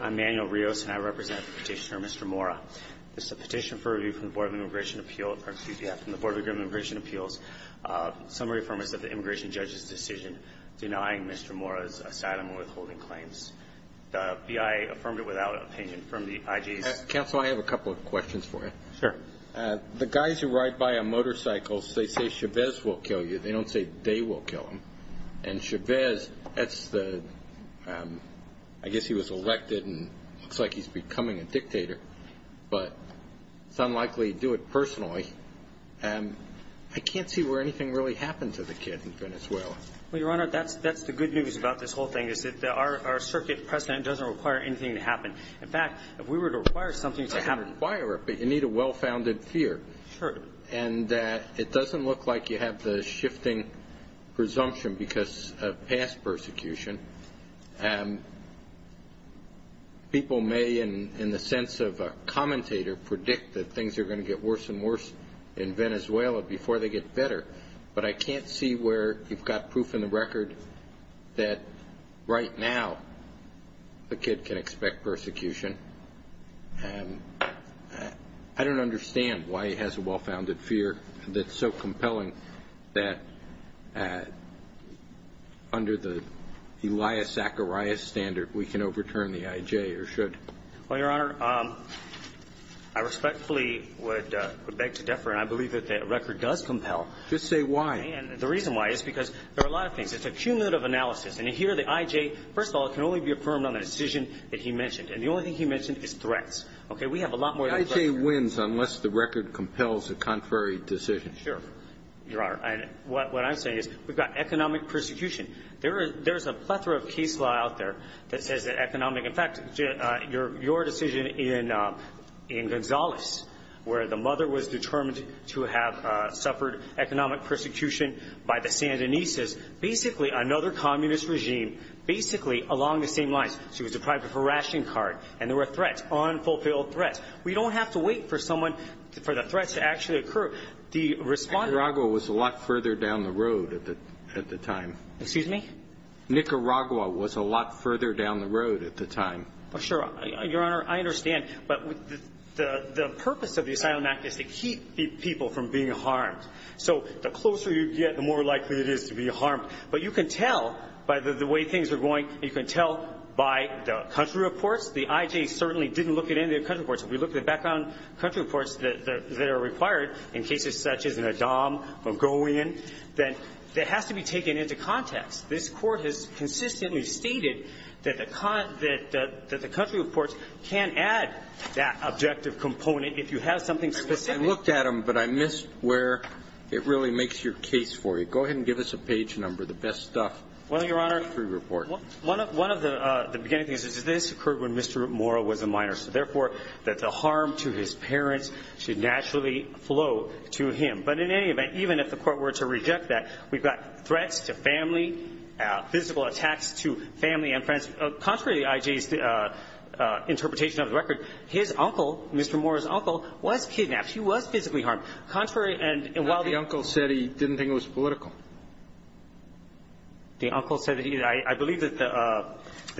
I'm Manuel Rios and I represent the petitioner Mr. Mora. This is a petition for review from the Board of Immigration Appeals. Summary affirm is that the immigration judge's decision denying Mr. Mora's asylum and withholding claims. The BIA affirmed it without an opinion from the IG. Counsel, I have a couple of questions for you. The guys who ride by on motorcycles, they say Chavez will kill you. They don't say they will kill him. And Chavez, I guess he was elected and looks like he's becoming a dictator, but it's unlikely he'd do it personally. I can't see where anything really happened to the kid in Venezuela. Well, Your Honor, that's the good news about this whole thing is that our circuit president doesn't require anything to happen. In fact, if we were to require something to happen you need a well-founded fear. And it doesn't look like you have the shifting presumption because of past persecution. People may, in the sense of a commentator, predict that things are going to get worse and worse in Venezuela before they get better. But I can't see where you've got proof in the record that right now the kid can expect persecution. I don't understand why he has a well-founded fear that's so compelling that under the Elias Zacharias standard we can overturn the IJ or should. Well, Your Honor, I respectfully would beg to differ, and I believe that that record does compel. Just say why. The reason why is because there are a lot of things. It's a cumulative analysis. And here the IJ, first of all, it can only be affirmed on the decision that he mentioned. And the only thing he mentioned is threats. Okay? We have a lot more than threats. The IJ wins unless the record compels a contrary decision. Sure, Your Honor. And what I'm saying is we've got economic persecution. There is a plethora of case law out there that says that economic – in fact, your decision in Gonzales, where the mother was determined to have suffered economic persecution by the Sandinistas, basically another communist regime, basically along the same lines. She was deprived of her ration card. And there were threats, unfulfilled threats. We don't have to wait for someone – for the threats to actually occur. The respondent – Nicaragua was a lot further down the road at the time. Excuse me? Nicaragua was a lot further down the road at the time. Well, sure. Your Honor, I understand. But the purpose of the Asylum Act is to keep people from being harmed. So the closer you get, the more likely it is to be harmed. But you can tell by the way things are going. You can tell by the country reports. The IJ certainly didn't look at any of the country reports. If we look at background country reports that are required in cases such as in Adham, Magoian, that it has to be taken into context. This Court has consistently stated that the country reports can add that objective component if you have something specific. I looked at them, but I missed where it really makes your case for you. Go ahead and give us a page number, the best stuff. Well, Your Honor, one of the beginning things is this occurred when Mr. Mora was a minor. So therefore, that the harm to his parents should naturally flow to him. But in any event, even if the Court were to reject that, we've got threats to family, physical attacks to family and friends. Contrary to the IJ's interpretation of the record, his uncle, Mr. Mora's uncle, was kidnapped. He was physically harmed. Contrary and while the uncle said he didn't think it was political, the uncle said that I believe that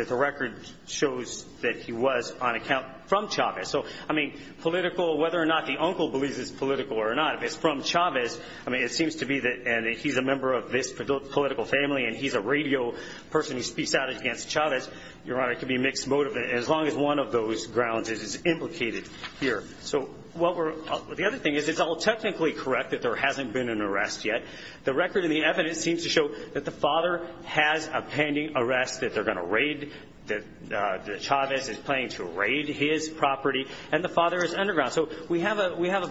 the record shows that he was on account from Chavez. So, I mean, political, whether or not the uncle believes it's political or not, if from Chavez, I mean, it seems to be that he's a member of this political family and he's a radio person who speaks out against Chavez, Your Honor, it can be a mixed motive as long as one of those grounds is implicated here. So, the other thing is it's all technically correct that there hasn't been an arrest yet. The record and the evidence seems to show that the father has a pending arrest that they're going to raid, that Chavez is planning to raid his property and the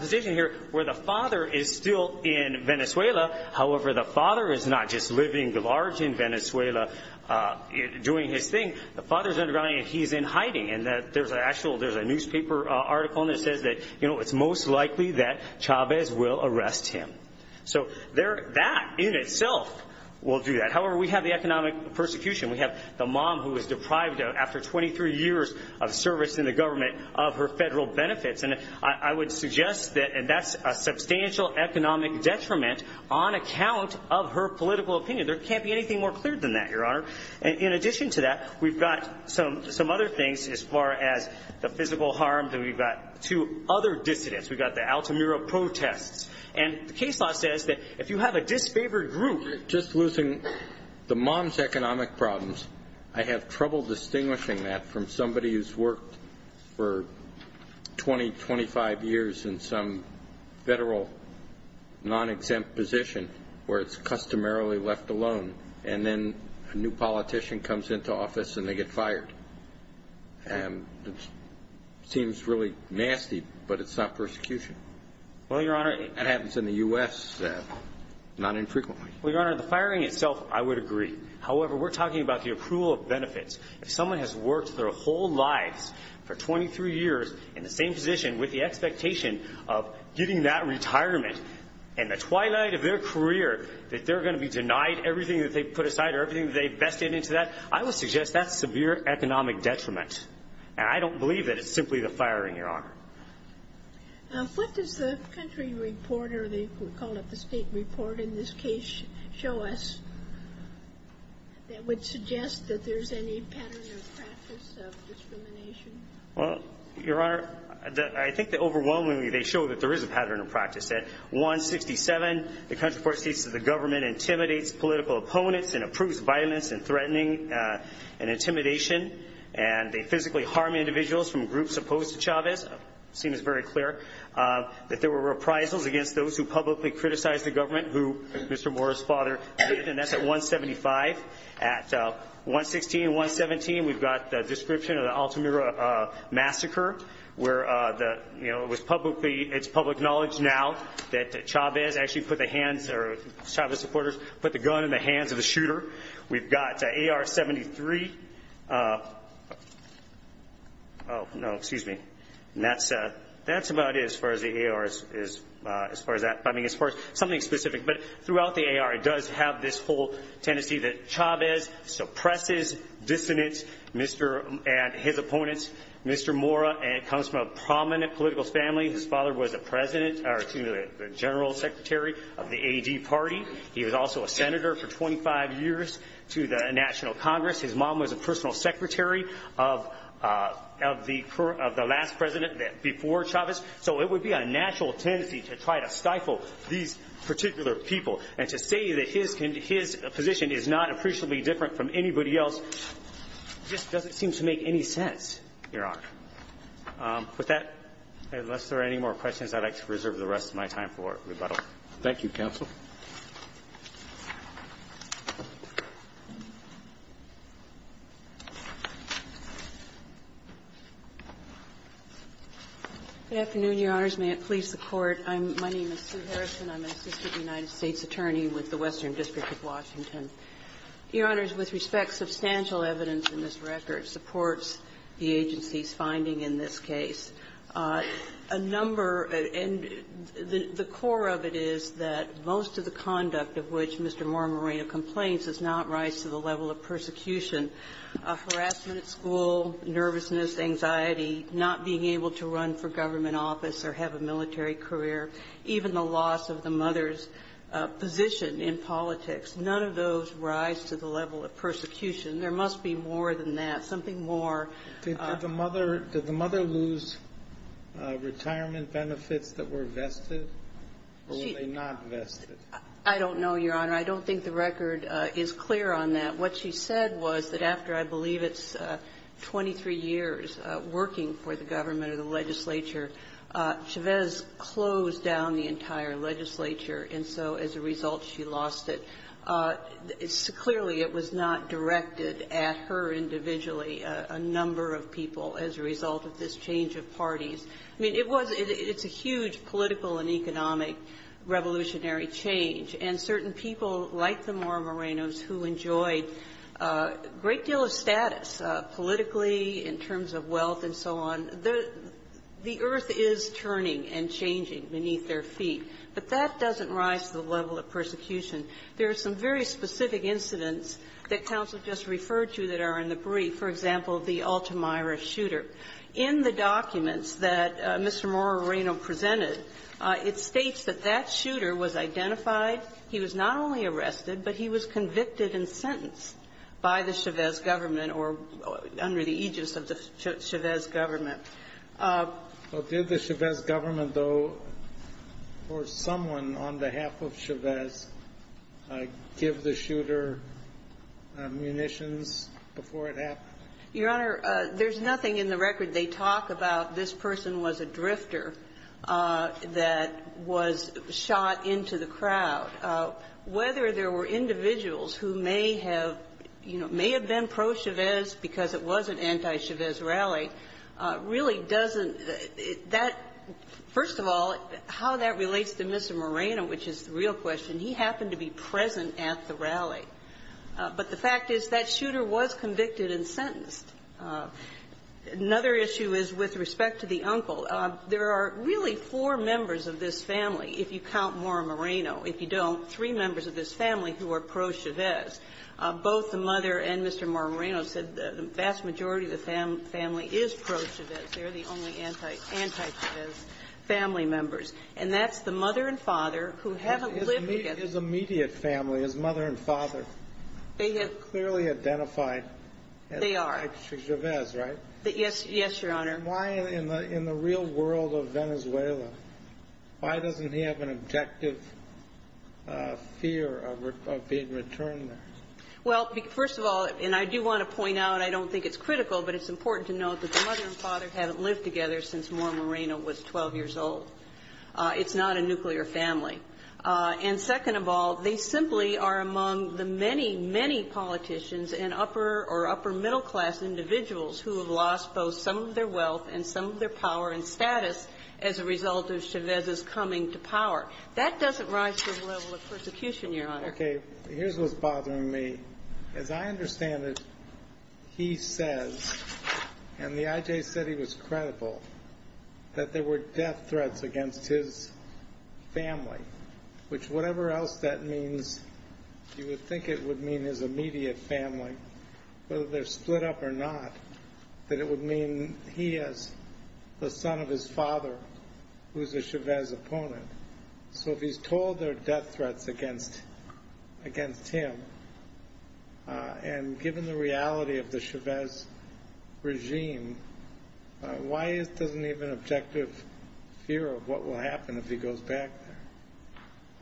position here where the father is still in Venezuela, however, the father is not just living large in Venezuela doing his thing. The father's underground and he's in hiding and that there's an actual, there's a newspaper article that says that, you know, it's most likely that Chavez will arrest him. So, there, that in itself will do that. However, we have the economic persecution. We have the mom who was deprived after 23 years of service in the government of her federal benefits. And I would suggest that, and that's a substantial economic detriment on account of her political opinion. There can't be anything more clear than that, Your Honor. In addition to that, we've got some other things as far as the physical harm that we've got to other dissidents. We've got the Altamira protests. And the case law says that if you have a disfavored group, just losing the mom's economic problems, I have trouble distinguishing that from somebody who's worked for 20, 25 years in some federal, non-exempt position where it's customarily left alone. And then a new politician comes into office and they get fired. And it seems really nasty, but it's not persecution. Well, Your Honor. It happens in the U.S., not infrequently. Well, Your Honor, the firing itself, I would agree. However, we're talking about the approval of benefits. If someone has worked their whole lives for 23 years in the same position with the expectation of getting that retirement in the twilight of their career, that they're going to be denied everything that they put aside or everything that they've vested into that, I would suggest that's severe economic detriment. And I don't believe that it's simply the firing, Your Honor. What does the country report, or they call it the state report in this case, show in the U.S. that would suggest that there's any pattern or practice of discrimination? Well, Your Honor, I think that overwhelmingly they show that there is a pattern of practice. At 167, the country report states that the government intimidates political opponents and approves violence and threatening and intimidation. And they physically harm individuals from groups opposed to Chavez. It seems very clear that there were reprisals against those who publicly criticized the And that's at 175. At 116 and 117, we've got the description of the Altamira massacre, where it's public knowledge now that Chavez supporters put the gun in the hands of the shooter. We've got AR-73. Oh, no, excuse me. And that's about it as far as the AR is, as far as that, I mean, as far as something specific. But throughout the AR, it does have this whole tendency that Chavez suppresses dissonance and his opponents. Mr. Mora comes from a prominent political family. His father was a president, or excuse me, the general secretary of the AD party. He was also a senator for 25 years to the National Congress. His mom was a personal secretary of the last president before Chavez. So it would be a natural tendency to try to stifle these particular people. And to say that his position is not appreciably different from anybody else just doesn't seem to make any sense, Your Honor. With that, unless there are any more questions, I'd like to reserve the rest of my time for rebuttal. Thank you, counsel. Good afternoon, Your Honors. May it please the Court. I'm my name is Sue Harrison. I'm an assistant United States attorney with the Western District of Washington. Your Honors, with respect, substantial evidence in this record supports the agency's finding in this case. A number of the core of it is that most of the conduct of which Mr. Mora Moreno complains does not rise to the level of persecution. Harassment at school, nervousness, anxiety, not being able to run for government office or have a military career, even the loss of the mother's position in politics, none of those rise to the level of persecution. There must be more than that, something more. Did the mother lose retirement benefits that were vested? Or were they not vested? I don't know, Your Honor. I don't think the record is clear on that. What she said was that after, I believe, it's 23 years working for the government or the legislature, Chavez closed down the entire legislature, and so as a result, she lost it. Clearly, it was not directed at her individually, a number of people, as a result of this change of parties. I mean, it was — it's a huge political and economic revolutionary change. And certain people like the Mora Morenos who enjoyed a great deal of status, politically, in terms of wealth and so on, the earth is turning and changing beneath their feet. But that doesn't rise to the level of persecution. There are some very specific incidents that counsel just referred to that are in the brief, for example, the Altamira shooter. In the documents that Mr. Mora Reno presented, it states that that shooter was identified. He was not only arrested, but he was convicted and sentenced by the Chavez government or under the aegis of the Chavez government. Well, did the Chavez government, though, or someone on behalf of Chavez give the shooter munitions before it happened? Your Honor, there's nothing in the record they talk about this person was a drifter that was shot into the crowd. Whether there were individuals who may have, you know, may have been pro-Chavez because it was an anti-Chavez rally really doesn't — that — first of all, how that relates to Mr. Moreno, which is the real question, he happened to be present at the rally. But the fact is that shooter was convicted and sentenced. Another issue is with respect to the uncle. There are really four members of this family, if you count Mora Reno. If you don't, three members of this family who are pro-Chavez. Both the mother and Mr. Mora Reno said the vast majority of the family is pro-Chavez. They're the only anti-Chavez family members. And that's the mother and father who haven't lived together. His immediate family, his mother and father, clearly identified as pro-Chavez, right? Yes, Your Honor. Why in the real world of Venezuela, why doesn't he have an objective fear of being returned there? Well, first of all, and I do want to point out, I don't think it's critical, but it's important to note that the mother and father haven't lived together since Mora Moreno was 12 years old. It's not a nuclear family. And second of all, they simply are among the many, many politicians and upper or upper middle class individuals who have lost both some of their wealth and some of their power and status as a result of Chavez's coming to power. That doesn't rise to the level of persecution, Your Honor. Okay, here's what's bothering me. As I understand it, he says, and the IJ said he was family, which whatever else that means, you would think it would mean his immediate family, whether they're split up or not, that it would mean he has the son of his father, who's a Chavez opponent. So if he's told there are death threats against him, and given the reality of the I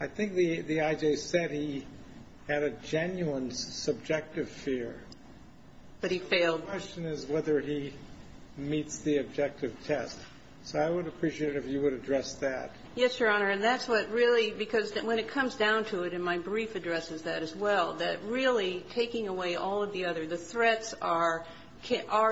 think the IJ said he had a genuine subjective fear. But he failed. The question is whether he meets the objective test. So I would appreciate it if you would address that. Yes, Your Honor, and that's what really, because when it comes down to it, and my brief addresses that as well, that really taking away all of the other, the threats are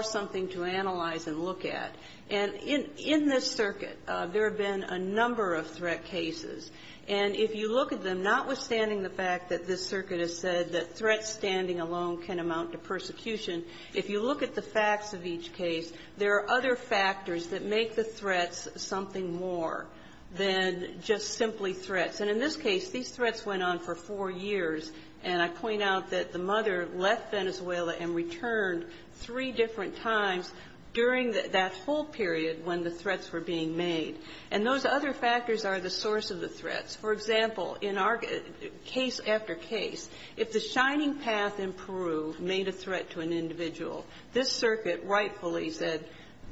something to analyze and look at. And in this circuit, there have been a number of threat cases. And if you look at them, notwithstanding the fact that this circuit has said that threats standing alone can amount to persecution, if you look at the facts of each case, there are other factors that make the threats something more than just simply threats. And in this case, these threats went on for four years. And I point out that the mother left Venezuela and returned three different times during that whole period when the threats were being made. And those other factors are the source of the threats. For example, in our case after case, if the Shining Path in Peru made a threat to an individual, this circuit rightfully said,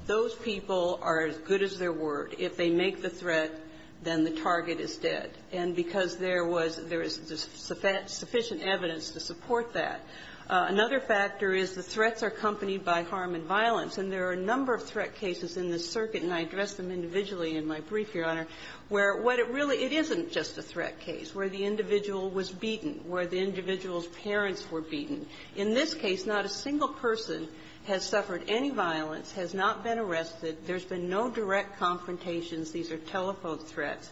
those people are as good as their word. If they make the threat, then the target is dead. And because there was the sufficient evidence to support that. Another factor is the threats are accompanied by harm and violence. And there are a number of threat cases in this circuit, and I address them individually in my brief, Your Honor, where what it really isn't just a threat case, where the individual was beaten, where the individual's parents were beaten. In this case, not a single person has suffered any violence, has not been arrested. There's been no direct confrontations. These are telephone threats.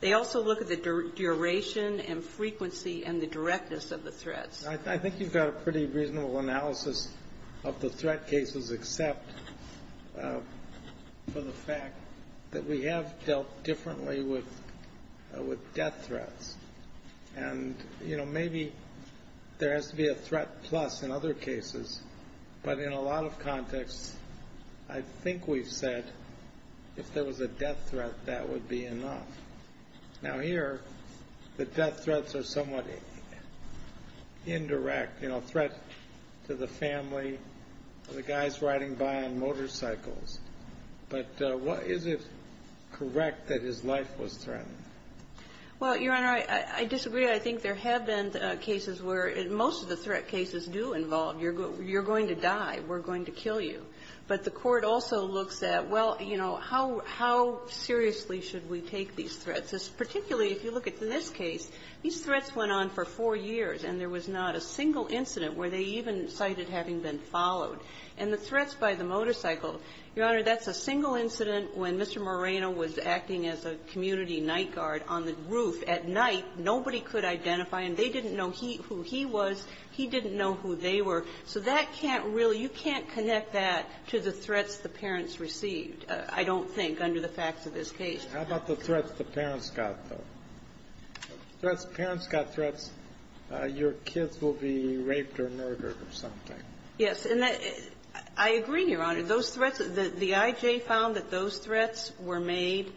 They also look at the duration and frequency and the directness of the threats. I think you've got a pretty reasonable analysis of the threat cases, except for the fact that we have dealt differently with death threats. And maybe there has to be a threat plus in other cases. But in a lot of contexts, I think we've said, if there was a death threat, that would be enough. Now, here, the death threats are somewhat indirect, threat to the family, the guys riding by on motorcycles. But is it correct that his life was threatened? Well, Your Honor, I disagree. I think there have been cases where most of the threat cases do involve, you're going to die, we're going to kill you. But the Court also looks at, well, you know, how seriously should we take these threats? Particularly, if you look at this case, these threats went on for four years, and there was not a single incident where they even cited having been followed. And the threats by the motorcycle, Your Honor, that's a single incident when Mr. Moreno was acting as a community night guard on the roof at night. Nobody could identify him. They didn't know who he was. He didn't know who they were. So that can't really you can't connect that to the threats the parents received, I don't think, under the facts of this case. How about the threats the parents got, though? Threats the parents got, threats your kids will be raped or murdered or something. Yes. And I agree, Your Honor. Those threats, the I.J. found that those threats were made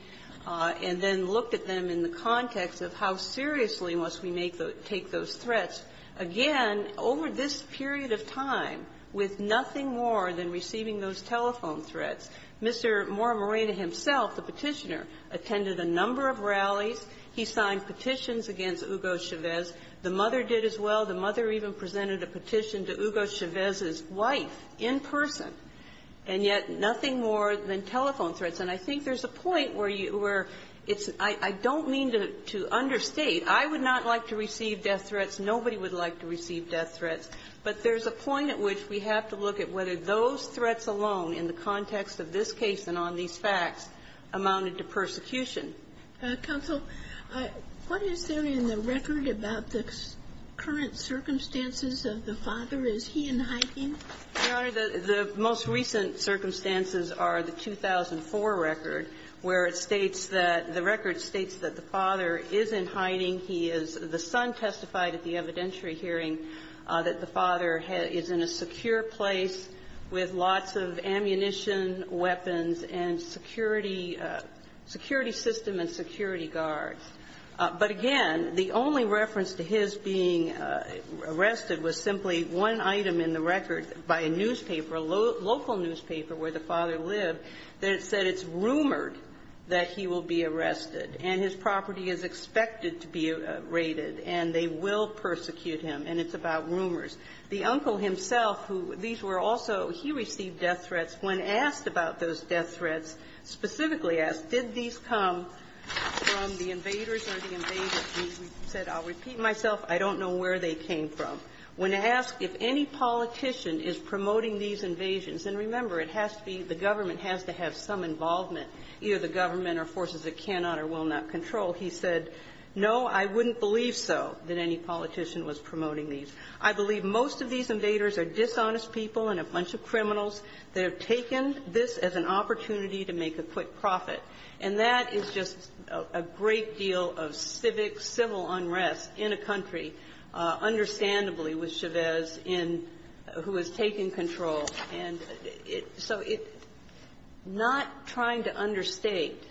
and then looked at them in the context of how seriously must we make those take those threats. Again, over this period of time, with nothing more than receiving those telephone threats, Mr. Moreno himself, the Petitioner, attended a number of rallies. He signed petitions against Hugo Chavez. The mother did as well. The mother even presented a petition to Hugo Chavez's wife in person. And yet nothing more than telephone threats. And I think there's a point where you were It's I don't mean to understate. I would not like to receive death threats. Nobody would like to receive death threats. But there's a point at which we have to look at whether those threats alone in the context of this case and on these facts amounted to persecution. Counsel, what is there in the record about the current circumstances of the father? Is he in hiding? Your Honor, the most recent circumstances are the 2004 record, where it states that the record states that the father is in hiding. He is the son testified at the evidentiary hearing that the father is in a secure place with lots of ammunition, weapons, and security system and security guards. But again, the only reference to his being arrested was simply one item in the record by a newspaper, a local newspaper where the father lived, that said it's rumored that he will be arrested. And his property is expected to be raided, and they will persecute him. And it's about rumors. The uncle himself, who these were also he received death threats. When asked about those death threats, specifically asked did these come from the invaders or the invaders, he said, I'll repeat myself, I don't know where they came from. When asked if any politician is promoting these invasions, and remember, it has to be the government has to have some involvement, either the government or forces that they cannot or will not control, he said, no, I wouldn't believe so that any politician was promoting these. I believe most of these invaders are dishonest people and a bunch of criminals that have taken this as an opportunity to make a quick profit. And that is just a great deal of civic, civil unrest in a country, understandably with Chavez in who has taken control. And so it's not trying to understate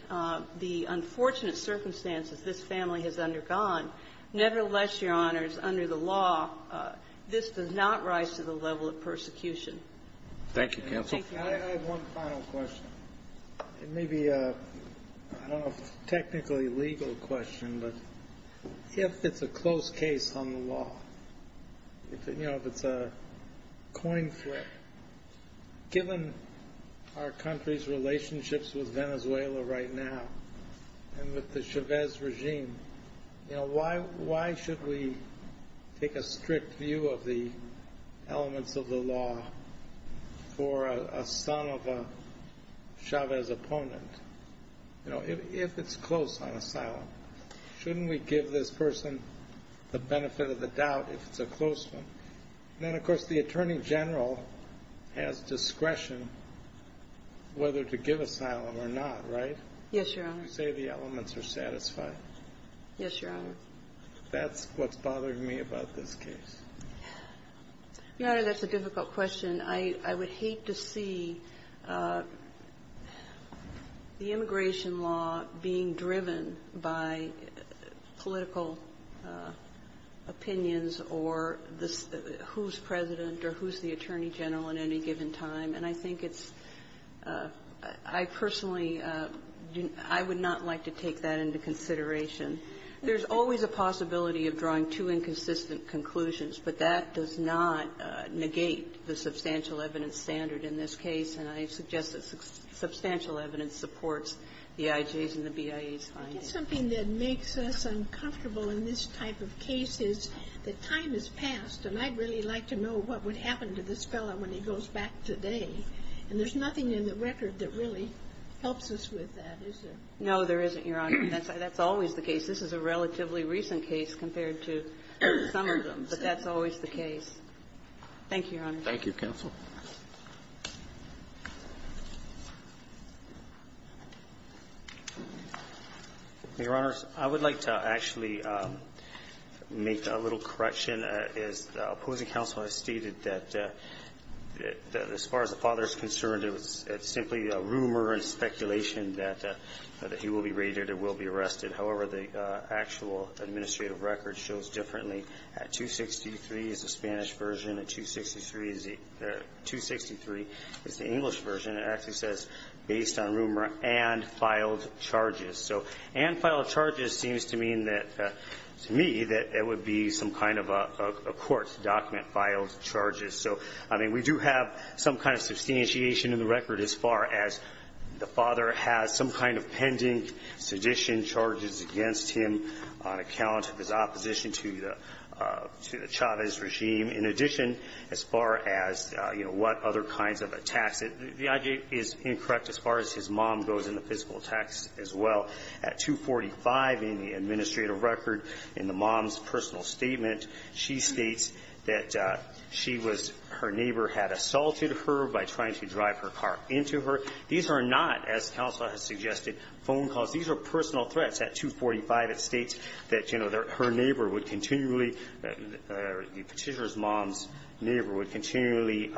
the unfortunate circumstances this family has undergone. Nevertheless, Your Honors, under the law, this does not rise to the level of persecution. Roberts. Thank you, counsel. I have one final question. It may be a technically legal question, but if it's a close case on the law, you know, if it's a coin flip, given our country's relationships with Venezuela right now, and with the Chavez regime, you know, why, why should we take a strict view of the elements of the law for a son of a Chavez opponent? You know, if it's close on asylum, shouldn't we give this person the benefit of the doubt if it's a close one? Then, of course, the Attorney General has discretion whether to give asylum or not, right? Yes, Your Honor. You say the elements are satisfied. Yes, Your Honor. That's what's bothering me about this case. Your Honor, that's a difficult question. I would hate to see the immigration law being driven by political opinions or who's President or who's the Attorney General at any given time. And I think it's – I personally, I would not like to take that into consideration. There's always a possibility of drawing two inconsistent conclusions, but that does not negate the substantial evidence standard in this case, and I suggest that substantial evidence supports the IJ's and the BIA's findings. I think something that makes us uncomfortable in this type of case is that time has passed, and I'd really like to know what would happen to this fellow when he goes back today, and there's nothing in the record that really helps us with that, is there? No, there isn't, Your Honor. That's always the case. This is a relatively recent case compared to some of them, but that's always the case. Thank you, Your Honor. Thank you, counsel. Your Honors, I would like to actually make a little correction. As the opposing counsel has stated, that as far as the father is concerned, it was simply a rumor and speculation that he will be raided or will be arrested. However, the actual administrative record shows differently. At 263 is the Spanish version. At 263 is the English version. It actually says, based on rumor and filed charges. So, and filed charges seems to mean that, to me, that it would be some kind of a court document, filed charges. So, I mean, we do have some kind of substantiation in the record as far as the father has some kind of pending sedition charges against him on account of his opposition to the Chavez regime. In addition, as far as, you know, what other kinds of attacks, the I.J. is incorrect as far as his mom goes in the physical attacks as well. At 245 in the administrative record, in the mom's personal statement, she states that she was her neighbor had assaulted her by trying to drive her car into her. These are not, as counsel has suggested, phone calls. These are personal threats. At 245, it states that, you know, her neighbor would continually, the petitioner's mom's neighbor would continually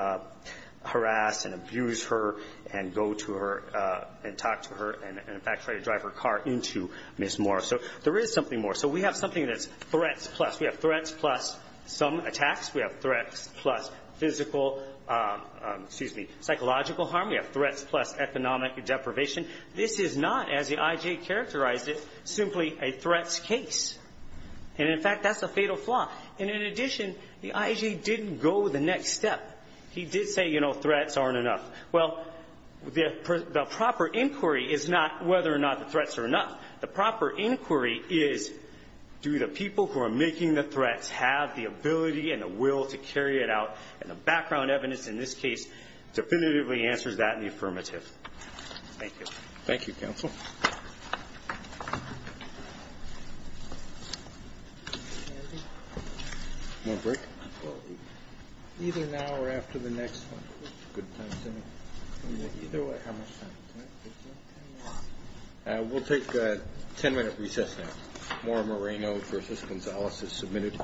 harass and abuse her and go to her and talk to her and, in fact, try to drive her car into Ms. Moore. So there is something more. So we have something that's threats plus. We have threats plus some attacks. We have threats plus physical, excuse me, psychological harm. We have threats plus economic deprivation. This is not, as the I.J. characterized it, simply a threats case. And, in fact, that's a fatal flaw. And in addition, the I.J. didn't go the next step. He did say, you know, threats aren't enough. Well, the proper inquiry is not whether or not the threats are enough. The proper inquiry is do the people who are making the threats have the ability and the will to carry it out. And the background evidence in this case definitively answers that in the affirmative. Thank you. Thank you, counsel. More break? Either now or after the next one. Good time, Timmy. Either way, how much time do we have? We'll take a 10 minute recess now. Maura Moreno versus Gonzales is submitted.